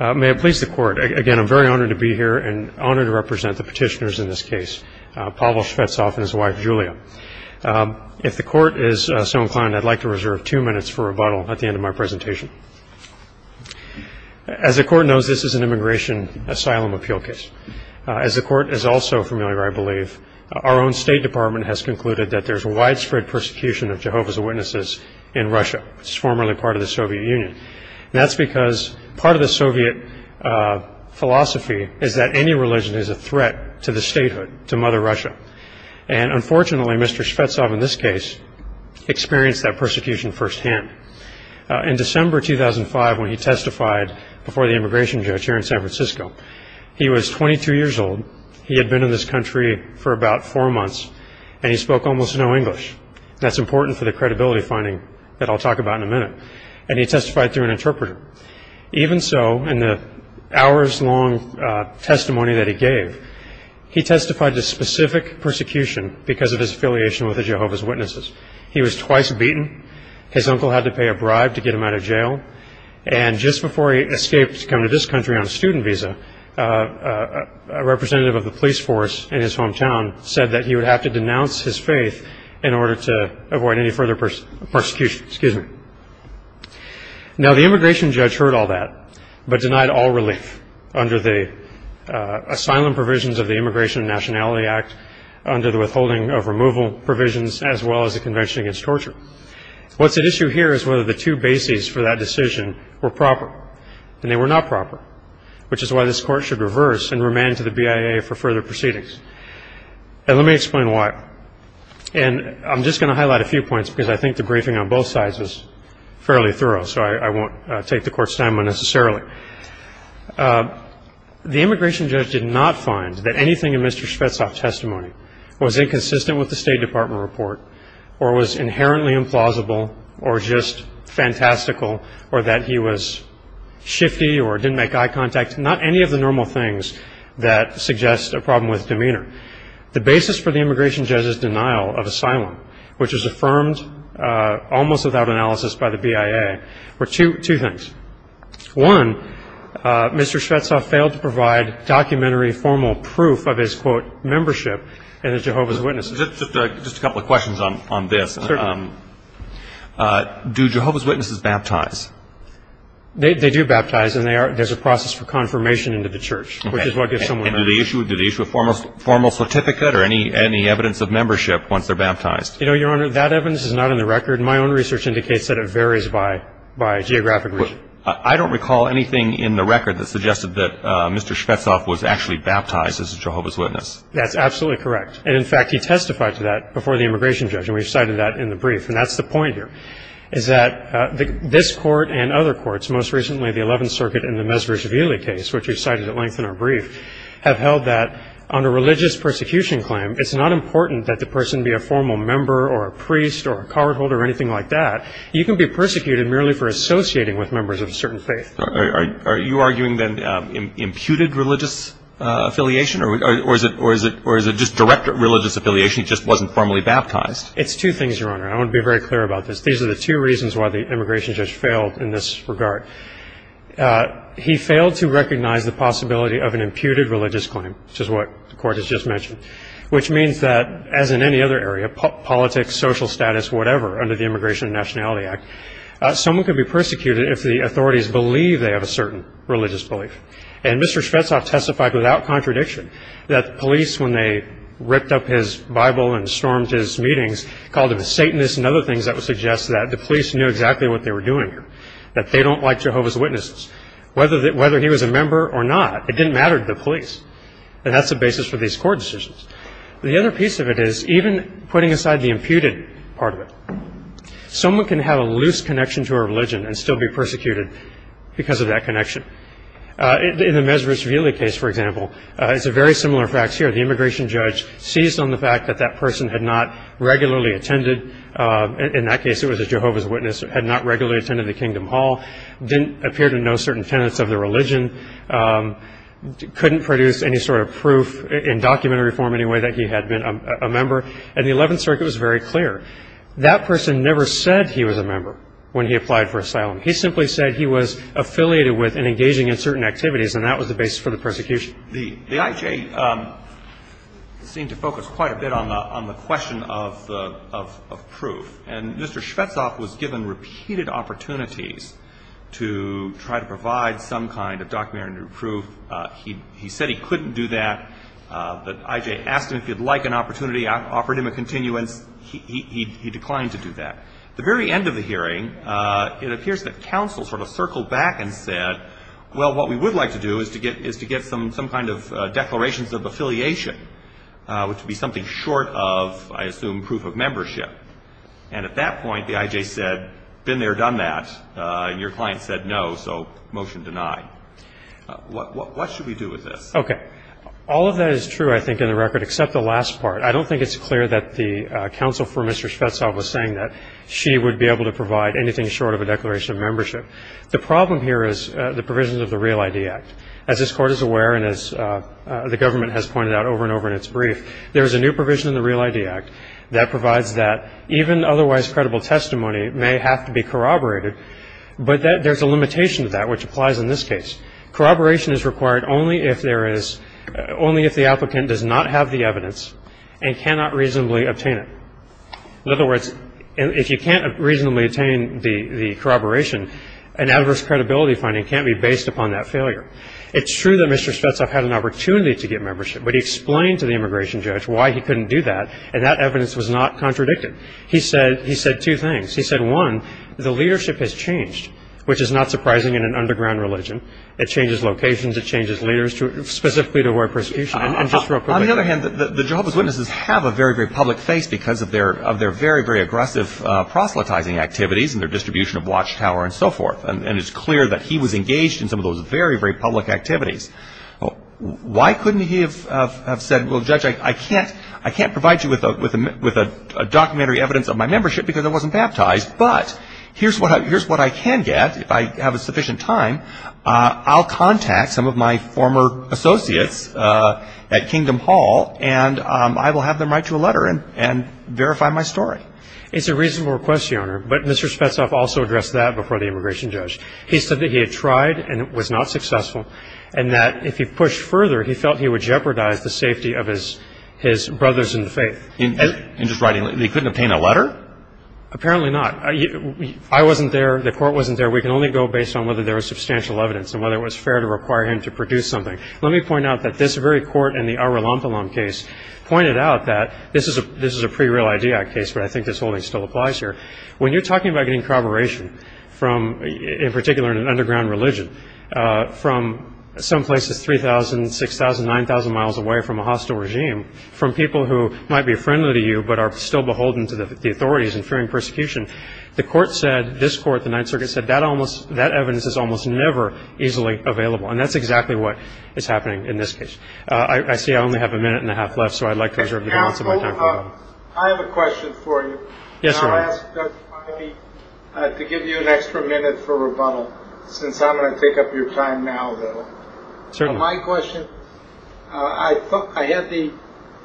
May it please the Court, again I'm very honored to be here and honored to represent the petitioners in this case, Pavel Shvetsov and his wife, Julia. If the Court is so inclined, I'd like to reserve two minutes for rebuttal at the end of my presentation. As the Court knows, this is an immigration asylum appeal case. As the Court is also familiar, I believe, our own State Department has concluded that there's widespread persecution of Jehovah's Witnesses in Russia, which is formerly part of the Soviet Union. And that's because part of the Soviet philosophy is that any religion is a threat to the statehood, to Mother Russia. And unfortunately, Mr. Shvetsov in this case experienced that persecution firsthand. In December 2005, when he testified before the immigration judge here in San Francisco, he was 22 years old. He had been in this country for about four months, and he spoke almost no English. That's important for the credibility finding that I'll talk about in a minute. And he testified through an interpreter. Even so, in the hours-long testimony that he gave, he testified to specific persecution because of his affiliation with the Jehovah's Witnesses. He was twice beaten. His uncle had to pay a bribe to get him out of jail. And just before he escaped to come to this country on a student visa, a representative of the police force in his hometown said that he would have to denounce his faith in order to avoid any further persecution. Now, the immigration judge heard all that, but denied all relief under the asylum provisions of the Immigration and Nationality Act, under the withholding of removal provisions, as well as the Convention Against Torture. What's at issue here is whether the two bases for that decision were proper. And they were not proper, which is why this Court should reverse and remand to the BIA for further proceedings. And let me explain why. And I'm just going to highlight a few points because I think the briefing on both sides is fairly thorough, so I won't take the Court's time unnecessarily. The immigration judge did not find that anything in Mr. Shvetsov's testimony was inconsistent with the State Department report or was inherently implausible or just fantastical or that he was shifty or didn't make eye contact, not any of the normal things that suggest a problem with demeanor. The basis for the immigration judge's denial of asylum, which is affirmed almost without analysis by the BIA, were two things. One, Mr. Shvetsov failed to provide documentary formal proof of his, quote, membership in the Jehovah's Witnesses. Just a couple of questions on this. Certainly. Do Jehovah's Witnesses baptize? They do baptize, and there's a process for confirmation into the church, which is what gives someone permission. And do they issue a formal certificate or any evidence of membership once they're baptized? You know, Your Honor, that evidence is not in the record. My own research indicates that it varies by geographic region. I don't recall anything in the record that suggested that Mr. Shvetsov was actually baptized as a Jehovah's Witness. That's absolutely correct. And, in fact, he testified to that before the immigration judge, and we've cited that in the brief. And that's the point here, is that this Court and other courts, most recently the Eleventh Circuit and the Mezverishvili case, which we've cited at length in our brief, have held that on a religious persecution claim, it's not important that the person be a formal member or a priest or a cardholder or anything like that. You can be persecuted merely for associating with members of a certain faith. Are you arguing, then, imputed religious affiliation, or is it just direct religious affiliation? He just wasn't formally baptized. It's two things, Your Honor. I want to be very clear about this. These are the two reasons why the immigration judge failed in this regard. He failed to recognize the possibility of an imputed religious claim, which is what the Court has just mentioned, which means that, as in any other area, politics, social status, whatever, under the Immigration and Nationality Act, someone could be persecuted if the authorities believe they have a certain religious belief. And Mr. Shvetsov testified without contradiction that the police, when they ripped up his Bible and stormed his meetings, called him a Satanist and other things that would suggest that the police knew exactly what they were doing here, that they don't like Jehovah's Witnesses. Whether he was a member or not, it didn't matter to the police. And that's the basis for these court decisions. The other piece of it is, even putting aside the imputed part of it, someone can have a loose connection to a religion and still be persecuted because of that connection. In the Mezrishvili case, for example, it's a very similar fact here. The immigration judge seized on the fact that that person had not regularly attended. In that case, it was a Jehovah's Witness, had not regularly attended the Kingdom Hall, didn't appear to know certain tenets of the religion, couldn't produce any sort of proof in documentary form in any way that he had been a member. And the Eleventh Circuit was very clear. That person never said he was a member when he applied for asylum. He simply said he was affiliated with and engaging in certain activities, and that was the basis for the persecution. The IJ seemed to focus quite a bit on the question of proof. And Mr. Shvetsov was given repeated opportunities to try to provide some kind of documentary proof. He said he couldn't do that, but IJ asked him if he would like an opportunity, offered him a continuance. He declined to do that. At the very end of the hearing, it appears that counsel sort of circled back and said, well, what we would like to do is to get some kind of declarations of affiliation, which would be something short of, I assume, proof of membership. And at that point, the IJ said, been there, done that. And your client said no, so motion denied. What should we do with this? Okay. All of that is true, I think, in the record, except the last part. I don't think it's clear that the counsel for Mr. Shvetsov was saying that she would be able to provide anything short of a declaration of membership. The problem here is the provisions of the Real ID Act. As this Court is aware, and as the government has pointed out over and over in its brief, there is a new provision in the Real ID Act that provides that even otherwise credible testimony may have to be corroborated, but there's a limitation to that which applies in this case. Corroboration is required only if the applicant does not have the evidence and cannot reasonably obtain it. In other words, if you can't reasonably obtain the corroboration, an adverse credibility finding can't be based upon that failure. It's true that Mr. Shvetsov had an opportunity to get membership, but he explained to the immigration judge why he couldn't do that, and that evidence was not contradicted. He said two things. He said, one, the leadership has changed, which is not surprising in an underground religion. It changes locations. It changes leaders specifically to avoid persecution. And just real quickly. On the other hand, the Jehovah's Witnesses have a very, very public face because of their very, very aggressive proselytizing activities and their distribution of watchtower and so forth. And it's clear that he was engaged in some of those very, very public activities. Why couldn't he have said, well, Judge, I can't provide you with a documentary evidence of my membership because I wasn't baptized, but here's what I can get if I have a sufficient time. I'll contact some of my former associates at Kingdom Hall, and I will have them write you a letter and verify my story. It's a reasonable request, Your Honor, but Mr. Spetsov also addressed that before the immigration judge. He said that he had tried and was not successful and that if he pushed further, he felt he would jeopardize the safety of his brothers in faith. In just writing a letter? He couldn't obtain a letter? Apparently not. I wasn't there. The Court wasn't there. We can only go based on whether there was substantial evidence and whether it was fair to require him to produce something. Let me point out that this very Court in the Ara Lampalam case pointed out that this is a pre-Real Ideac case, but I think this holding still applies here. When you're talking about getting corroboration, in particular in an underground religion, from some places 3,000, 6,000, 9,000 miles away from a hostile regime, from people who might be friendly to you but are still beholden to the authorities and fearing persecution, this Court, the Ninth Circuit, said that evidence is almost never easily available, and that's exactly what is happening in this case. I see I only have a minute and a half left, so I'd like to reserve the balance of my time. Counsel, I have a question for you. Yes, sir. I'll ask Judge Bidey to give you an extra minute for rebuttal, since I'm going to take up your time now, though. Certainly. My question, I had the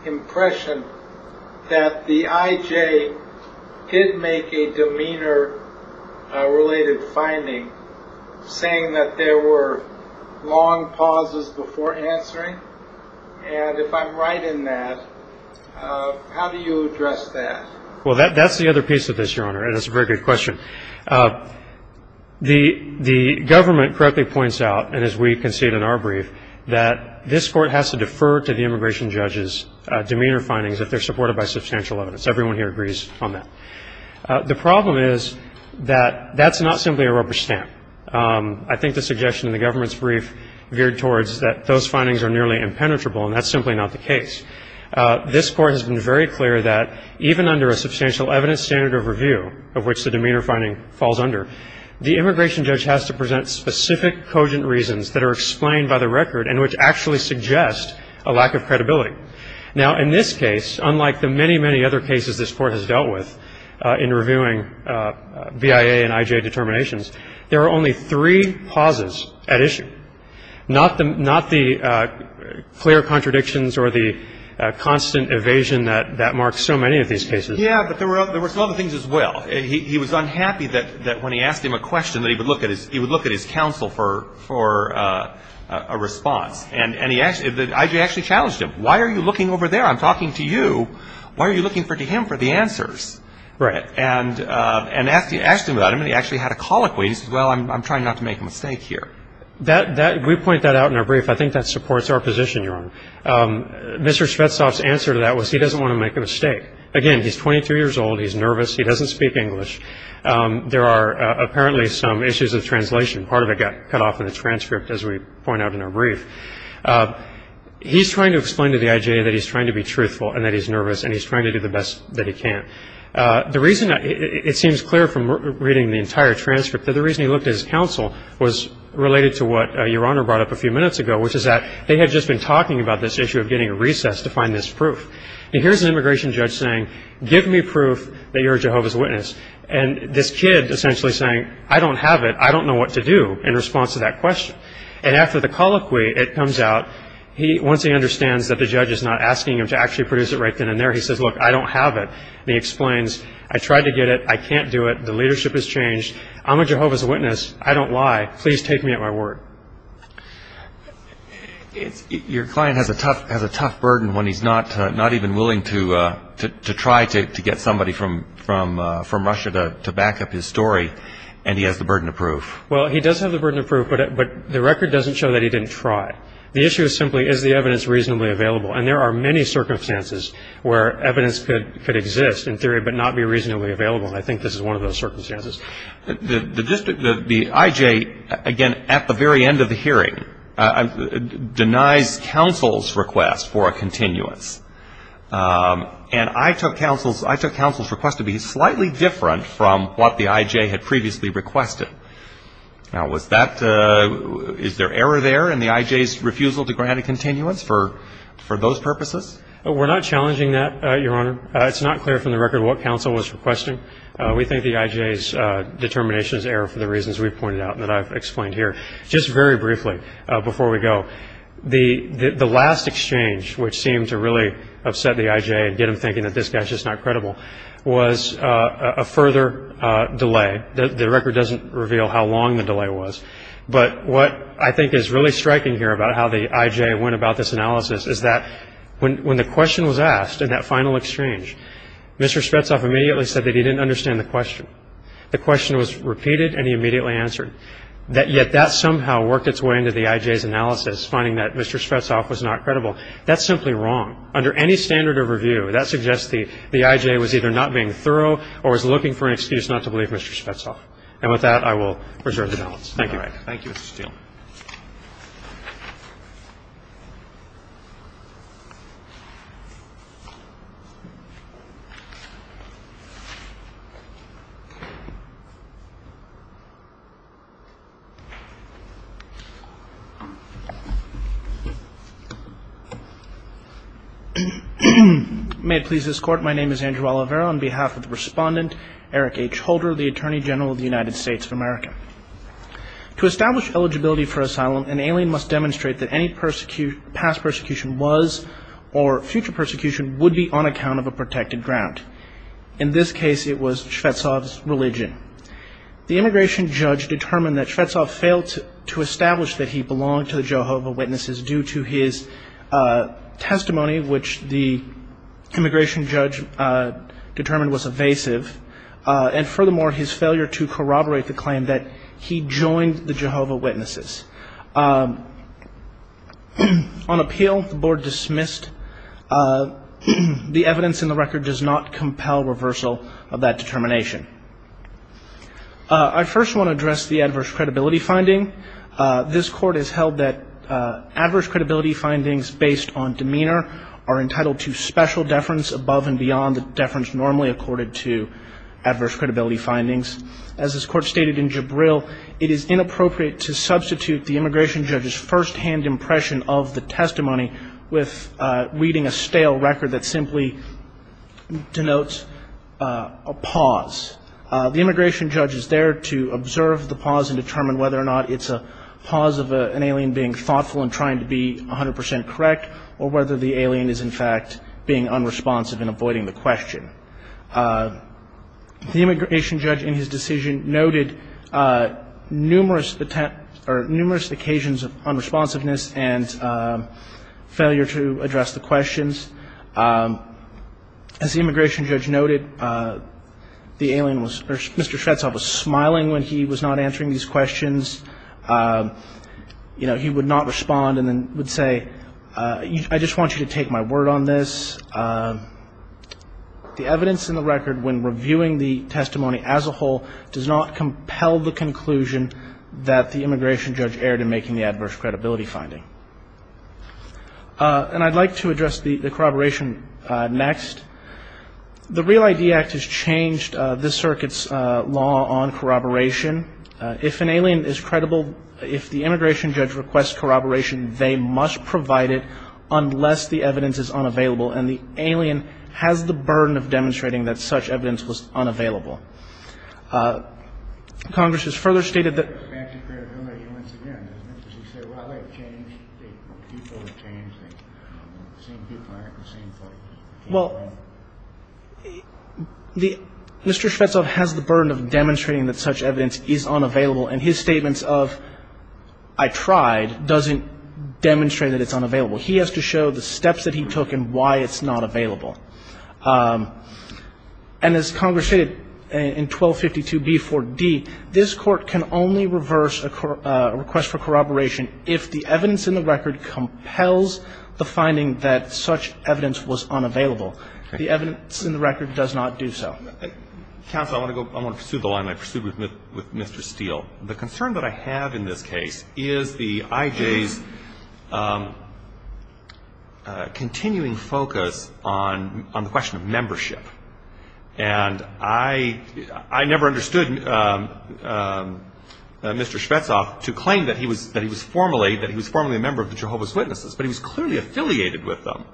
impression that the I.J. did make a demeanor-related finding saying that there were long pauses before answering, and if I'm right in that, how do you address that? Well, that's the other piece of this, Your Honor, and it's a very good question. The government correctly points out, and as we concede in our brief, that this Court has to defer to the immigration judge's demeanor findings if they're supported by substantial evidence. Everyone here agrees on that. The problem is that that's not simply a rubber stamp. I think the suggestion in the government's brief veered towards that those findings are nearly impenetrable, and that's simply not the case. This Court has been very clear that even under a substantial evidence standard of review, of which the demeanor finding falls under, the immigration judge has to present specific cogent reasons that are explained by the record and which actually suggest a lack of credibility. Now, in this case, unlike the many, many other cases this Court has dealt with in reviewing BIA and I.J. not the clear contradictions or the constant evasion that marks so many of these cases. Yeah, but there were some other things as well. He was unhappy that when he asked him a question that he would look at his counsel for a response, and I.J. actually challenged him. Why are you looking over there? I'm talking to you. Why are you looking to him for the answers? Right. And asked him about it, and he actually had a colloquy. He says, well, I'm trying not to make a mistake here. We point that out in our brief. I think that supports our position, Your Honor. Mr. Shvetsov's answer to that was he doesn't want to make a mistake. Again, he's 22 years old. He's nervous. He doesn't speak English. There are apparently some issues of translation. Part of it got cut off in the transcript, as we point out in our brief. He's trying to explain to the I.J. that he's trying to be truthful and that he's nervous, and he's trying to do the best that he can. The reason it seems clear from reading the entire transcript that the reason he looked at his counsel was related to what Your Honor brought up a few minutes ago, which is that they had just been talking about this issue of getting a recess to find this proof. And here's an immigration judge saying, give me proof that you're a Jehovah's Witness. And this kid essentially saying, I don't have it. I don't know what to do in response to that question. And after the colloquy, it comes out, once he understands that the judge is not asking him to actually produce it right then and there, he says, look, I don't have it. And he explains, I tried to get it. I can't do it. The leadership has changed. I'm a Jehovah's Witness. I don't lie. Please take me at my word. Your client has a tough burden when he's not even willing to try to get somebody from Russia to back up his story, and he has the burden of proof. Well, he does have the burden of proof, but the record doesn't show that he didn't try. The issue is simply, is the evidence reasonably available? And there are many circumstances where evidence could exist in theory but not be reasonably available, and I think this is one of those circumstances. The district, the I.J., again, at the very end of the hearing, denies counsel's request for a continuance. And I took counsel's request to be slightly different from what the I.J. had previously requested. Now, is there error there in the I.J.'s refusal to grant a continuance for those purposes? We're not challenging that, Your Honor. It's not clear from the record what counsel was requesting. We think the I.J.'s determination is error for the reasons we've pointed out and that I've explained here. Just very briefly before we go, the last exchange which seemed to really upset the I.J. and get him thinking that this guy's just not credible was a further delay. The record doesn't reveal how long the delay was. But what I think is really striking here about how the I.J. went about this analysis is that when the question was asked, in that final exchange, Mr. Spetsoff immediately said that he didn't understand the question. The question was repeated and he immediately answered. Yet that somehow worked its way into the I.J.'s analysis, finding that Mr. Spetsoff was not credible. That's simply wrong. Under any standard of review, that suggests the I.J. was either not being thorough or was looking for an excuse not to believe Mr. Spetsoff. And with that, I will reserve the balance. Thank you. All right. Thank you, Mr. Steele. May it please this Court, my name is Andrew Oliveira. On behalf of the Respondent, Eric H. Holder, the Attorney General of the United States of America. To establish eligibility for asylum, an alien must demonstrate that any past persecution was or future persecution would be on account of a protected ground. In this case, it was Spetsoff's religion. The immigration judge determined that Spetsoff failed to establish that he belonged to the Jehovah Witnesses due to his testimony, which the immigration judge determined was evasive. And furthermore, his failure to corroborate the claim that he joined the Jehovah Witnesses. On appeal, the Board dismissed the evidence in the record does not compel reversal of that determination. I first want to address the adverse credibility finding. This Court has held that adverse credibility findings based on demeanor are entitled to special deference above and beyond the deference normally accorded to adverse credibility findings. As this Court stated in Jabril, it is inappropriate to substitute the immigration judge's firsthand impression of the testimony with reading a stale record that simply denotes a pause. The immigration judge is there to observe the pause and determine whether or not it's a pause of an alien being thoughtful and trying to be 100 percent correct or whether the alien is, in fact, being unresponsive and avoiding the question. The immigration judge in his decision noted numerous occasions of unresponsiveness and failure to address the questions. As the immigration judge noted, the alien was Mr. Shvetsov was smiling when he was not answering these questions. You know, he would not respond and then would say, I just want you to take my word on this. The evidence in the record when reviewing the testimony as a whole does not compel the conclusion that the immigration judge erred in making the adverse credibility finding. And I'd like to address the corroboration next. The REAL ID Act has changed this circuit's law on corroboration. If an alien is credible, if the immigration judge requests corroboration, they must provide it unless the evidence is unavailable, and the alien has the burden of demonstrating that such evidence was unavailable. Congress has further stated that the fact of credibility, once again, as Mr. Shvetsov said, while they've changed, people have changed. The same people aren't the same folks. Well, Mr. Shvetsov has the burden of demonstrating that such evidence is unavailable, and his statements of, I tried, doesn't demonstrate that it's unavailable. He has to show the steps that he took and why it's not available. And as Congress stated in 1252b4d, this Court can only reverse a request for corroboration if the evidence in the record compels the finding that such evidence was unavailable. The evidence in the record does not do so. Counsel, I want to pursue the line I pursued with Mr. Steele. The concern that I have in this case is the IJ's continuing focus on the question of membership. And I never understood Mr. Shvetsov to claim that he was formerly a member of the Jehovah's Witnesses, but he was clearly affiliated with them.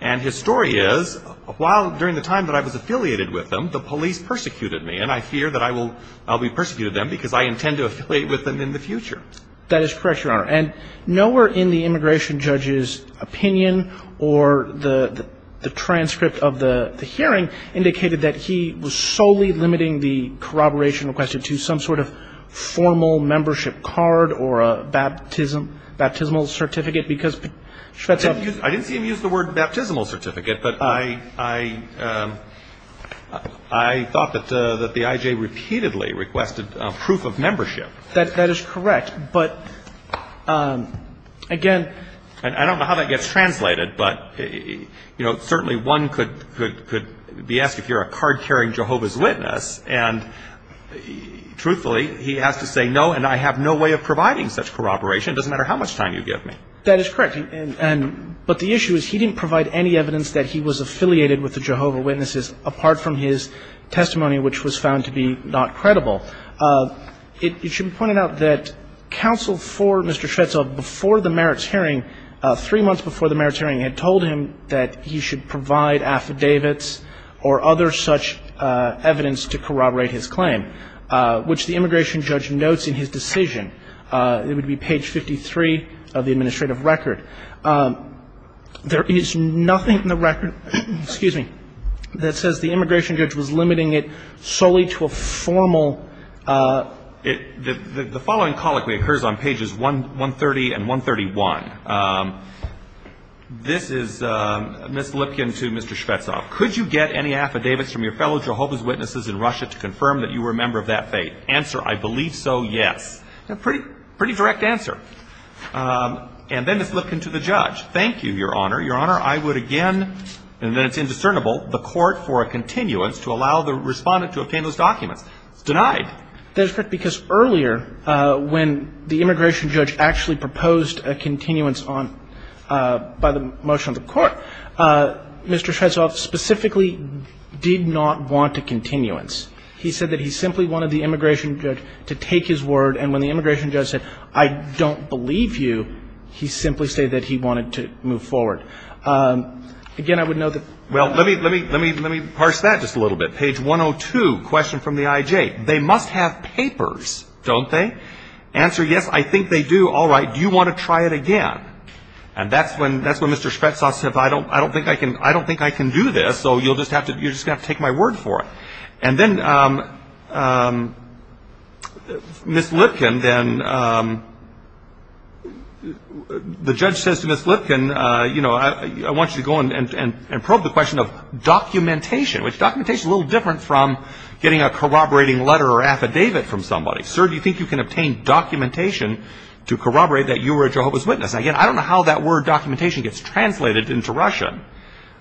And his story is, while during the time that I was affiliated with them, the police persecuted me, and I fear that I will be persecuted then because I intend to affiliate with them in the future. That is correct, Your Honor. And nowhere in the immigration judge's opinion or the transcript of the hearing indicated that he was solely limiting the corroboration requested to some sort of formal membership card or a baptismal certificate because Shvetsov used the word baptismal certificate. But I thought that the IJ repeatedly requested proof of membership. That is correct. But, again, I don't know how that gets translated, but, you know, certainly one could be asked if you're a card-carrying Jehovah's Witness. And truthfully, he has to say no, and I have no way of providing such corroboration. It doesn't matter how much time you give me. That is correct. But the issue is he didn't provide any evidence that he was affiliated with the Jehovah's Witnesses apart from his testimony, which was found to be not credible. It should be pointed out that counsel for Mr. Shvetsov before the merits hearing, three months before the merits hearing, had told him that he should provide affidavits or other such evidence to corroborate his claim, which the immigration judge notes in his decision. It would be page 53 of the administrative record. There is nothing in the record, excuse me, that says the immigration judge was limiting it solely to a formal. The following colloquy occurs on pages 130 and 131. This is Ms. Lipkin to Mr. Shvetsov. Could you get any affidavits from your fellow Jehovah's Witnesses in Russia to confirm that you were a member of that faith? Answer, I believe so, yes. Pretty direct answer. And then Ms. Lipkin to the judge. Thank you, Your Honor. Your Honor, I would again, and then it's indiscernible, the court for a continuance to allow the respondent to obtain those documents. It's denied. That is correct because earlier when the immigration judge actually proposed a continuance on by the motion of the court, Mr. Shvetsov specifically did not want a continuance. He said that he simply wanted the immigration judge to take his word. And when the immigration judge said, I don't believe you, he simply stated that he wanted to move forward. Again, I would note that ---- Well, let me parse that just a little bit. Page 102, question from the IJ. They must have papers, don't they? Answer, yes, I think they do. All right. Do you want to try it again? And that's when Mr. Shvetsov said, I don't think I can do this, so you're just going to have to take my word for it. And then Ms. Lipkin, the judge says to Ms. Lipkin, I want you to go and probe the question of documentation, which documentation is a little different from getting a corroborating letter or affidavit from somebody. Sir, do you think you can obtain documentation to corroborate that you were a Jehovah's Witness? Again, I don't know how that word documentation gets translated into Russian.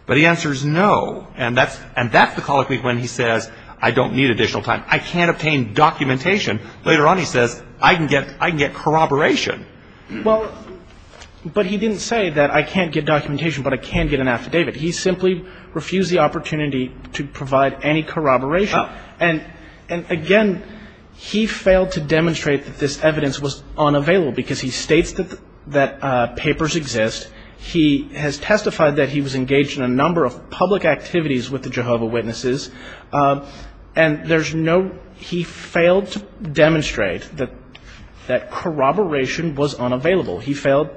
But the answer is no. And that's the colloquy when he says, I don't need additional time. I can't obtain documentation. Later on he says, I can get corroboration. Well, but he didn't say that I can't get documentation but I can get an affidavit. He simply refused the opportunity to provide any corroboration. And, again, he failed to demonstrate that this evidence was unavailable because he states that papers exist. He has testified that he was engaged in a number of public activities with the Jehovah's Witnesses. And there's no he failed to demonstrate that corroboration was unavailable. He failed.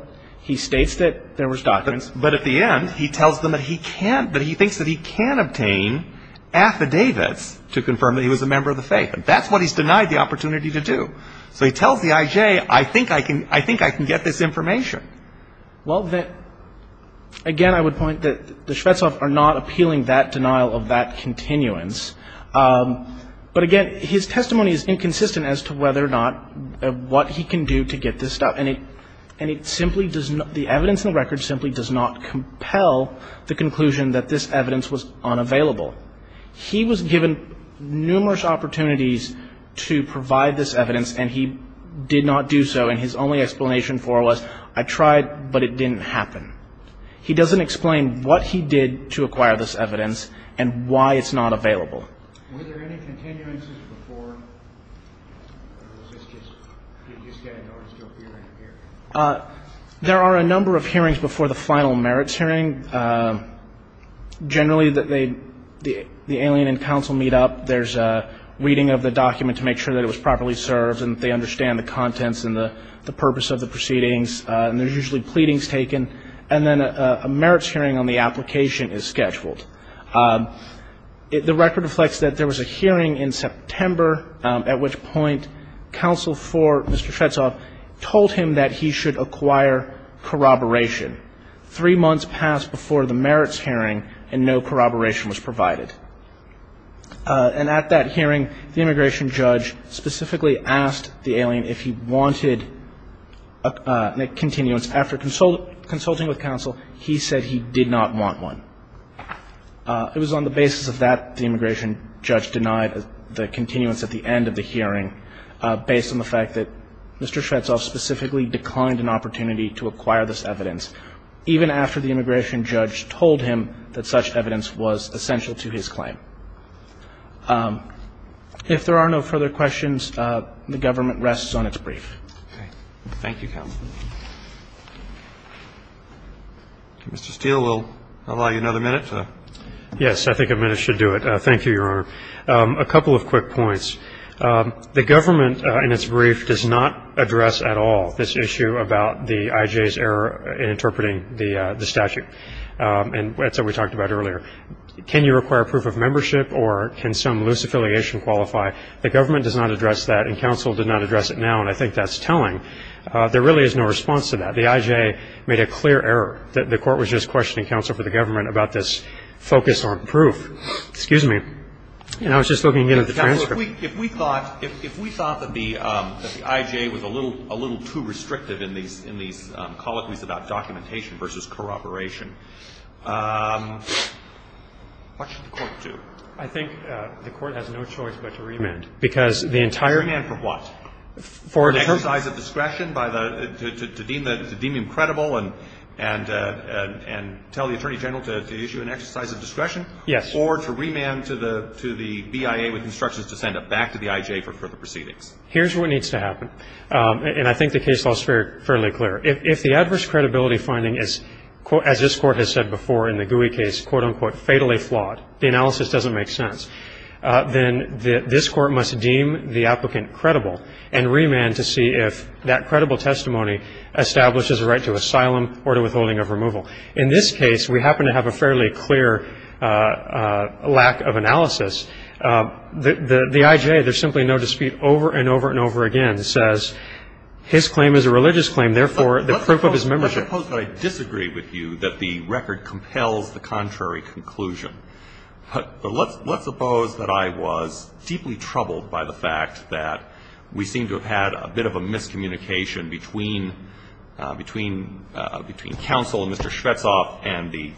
He states that there was documents. But at the end he tells them that he thinks that he can obtain affidavits to confirm that he was a member of the faith. That's what he's denied the opportunity to do. So he tells the IJ, I think I can get this information. Well, again, I would point that the Shvetsov are not appealing that denial of that continuance. But, again, his testimony is inconsistent as to whether or not what he can do to get this stuff. And it simply does not the evidence in the record simply does not compel the conclusion that this evidence was unavailable. He was given numerous opportunities to provide this evidence and he did not do so. And his only explanation for it was, I tried, but it didn't happen. He doesn't explain what he did to acquire this evidence and why it's not available. Were there any continuances before? There are a number of hearings before the final merits hearing. Generally, the alien and counsel meet up, there's a reading of the document to make sure that it was properly served and that they understand the contents and the purpose of the proceedings. And there's usually pleadings taken. And then a merits hearing on the application is scheduled. The record reflects that there was a hearing in September at which point counsel for Mr. Shvetsov told him that he should acquire corroboration. Three months passed before the merits hearing and no corroboration was provided. And at that hearing, the immigration judge specifically asked the alien if he wanted a continuance. After consulting with counsel, he said he did not want one. It was on the basis of that the immigration judge denied the continuance at the end of the hearing, based on the fact that Mr. Shvetsov specifically declined an opportunity to acquire this evidence, even after the immigration judge told him that such evidence was essential to his claim. If there are no further questions, the government rests on its brief. Thank you, counsel. Mr. Steele, we'll allow you another minute. Yes, I think a minute should do it. Thank you, Your Honor. A couple of quick points. The government in its brief does not address at all this issue about the IJ's error in interpreting the statute. And that's what we talked about earlier. Can you require proof of membership or can some loose affiliation qualify? The government does not address that and counsel did not address it now, and I think that's telling. There really is no response to that. The IJ made a clear error. The Court was just questioning counsel for the government about this focus on proof. Excuse me. I was just looking at the transcript. If we thought that the IJ was a little too restrictive in these colloquies about documentation versus corroboration, what should the Court do? I think the Court has no choice but to remand. Because the entire ---- Remand for what? For an exercise of discretion to deem him credible and tell the Attorney General to issue an exercise of discretion? Yes. Or to remand to the BIA with instructions to send it back to the IJ for further proceedings? Here's what needs to happen, and I think the case law is fairly clear. If the adverse credibility finding is, as this Court has said before in the Gouy case, quote, unquote, fatally flawed, the analysis doesn't make sense, then this Court must deem the applicant credible and remand to see if that credible testimony establishes a right to asylum or to withholding of removal. In this case, we happen to have a fairly clear lack of analysis. The IJ, there's simply no dispute over and over and over again, says his claim is a religious claim. Therefore, the proof of his membership ---- Let's suppose that I disagree with you that the record compels the contrary conclusion. But let's suppose that I was deeply troubled by the fact that we seem to have had a bit of a miscommunication between counsel and Mr. Shvetsov and the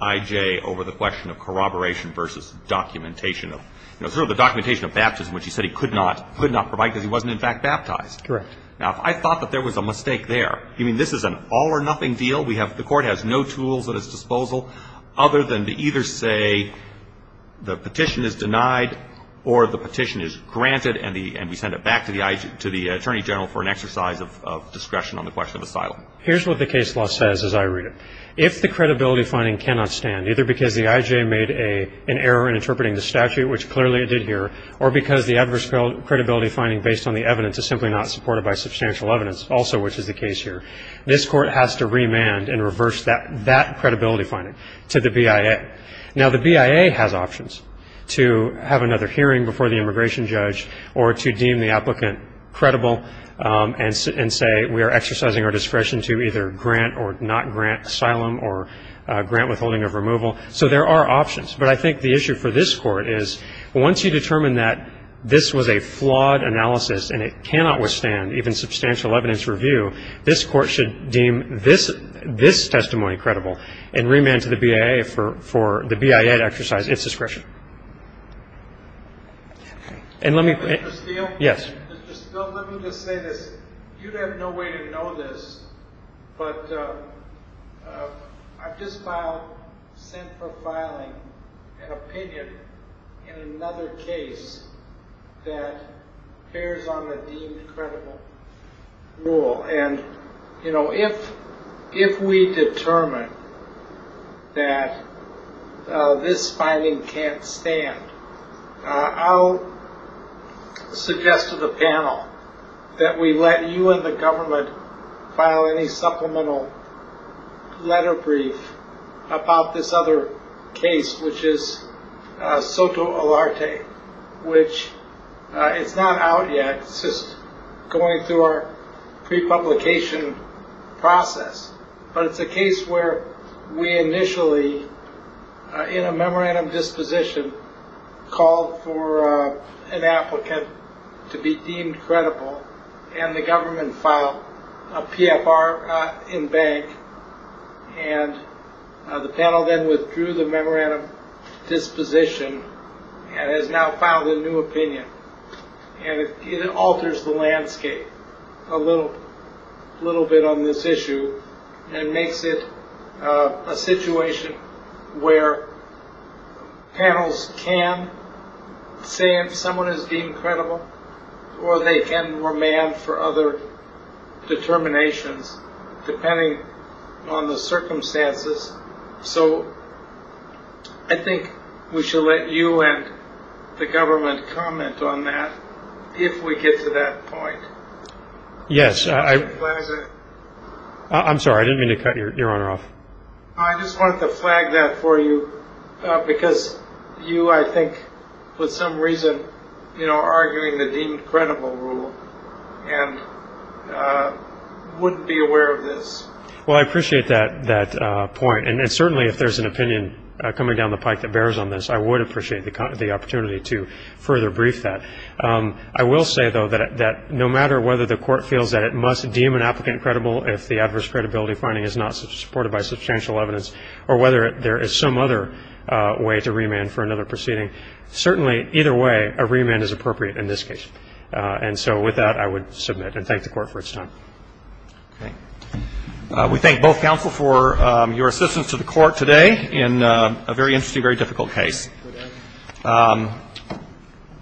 IJ over the question of corroboration versus documentation of, you know, sort of the documentation of baptism, which he said he could not provide because he wasn't, in fact, baptized. Correct. Now, if I thought that there was a mistake there, you mean this is an all-or-nothing deal? We have ---- the Court has no tools at its disposal other than to either say the petition is denied or the petition is granted and we send it back to the IJ, to the Attorney General, for an exercise of discretion on the question of asylum. Here's what the case law says as I read it. If the credibility finding cannot stand, either because the IJ made an error in interpreting the statute, which clearly it did here, or because the adverse credibility finding based on the evidence is simply not supported by substantial evidence, also which is the case here, this Court has to remand and reverse that credibility finding to the BIA. Now, the BIA has options to have another hearing before the immigration judge or to deem the applicant credible and say we are exercising our discretion to either grant or not grant asylum or grant withholding of removal. So there are options. But I think the issue for this Court is once you determine that this was a flawed analysis and it cannot withstand even substantial evidence review, this Court should deem this testimony credible and remand to the BIA for the BIA to exercise its discretion. And let me ---- Mr. Steele? Yes. Mr. Steele, let me just say this. You'd have no way to know this, but I've just filed, sent for filing an opinion in another case that bears on the deemed credible rule. And, you know, if we determine that this finding can't stand, I'll suggest to the panel that we let you and the government file any supplemental letter brief about this other case, which is Soto Alarte, which it's not out yet. It's just going through our prepublication process. But it's a case where we initially, in a memorandum disposition, called for an applicant to be deemed credible, and the government filed a PFR in bank. And the panel then withdrew the memorandum disposition and has now filed a new opinion. And it alters the landscape a little bit on this issue and makes it a situation where panels can say if someone is deemed credible or they can remand for other determinations depending on the circumstances. So I think we should let you and the government comment on that if we get to that point. Yes, I'm sorry, I didn't mean to cut your honor off. I just wanted to flag that for you because you, I think, for some reason, are arguing the deemed credible rule and wouldn't be aware of this. Well, I appreciate that point. And certainly if there's an opinion coming down the pike that bears on this, I would appreciate the opportunity to further brief that. I will say, though, that no matter whether the court feels that it must deem an applicant credible if the adverse credibility finding is not supported by substantial evidence or whether there is some other way to remand for another proceeding, certainly either way a remand is appropriate in this case. And so with that, I would submit and thank the court for its time. Okay. We thank both counsel for your assistance to the court today in a very interesting, very difficult case.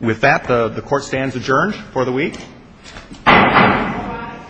With that, the court stands adjourned for the week. Thank you.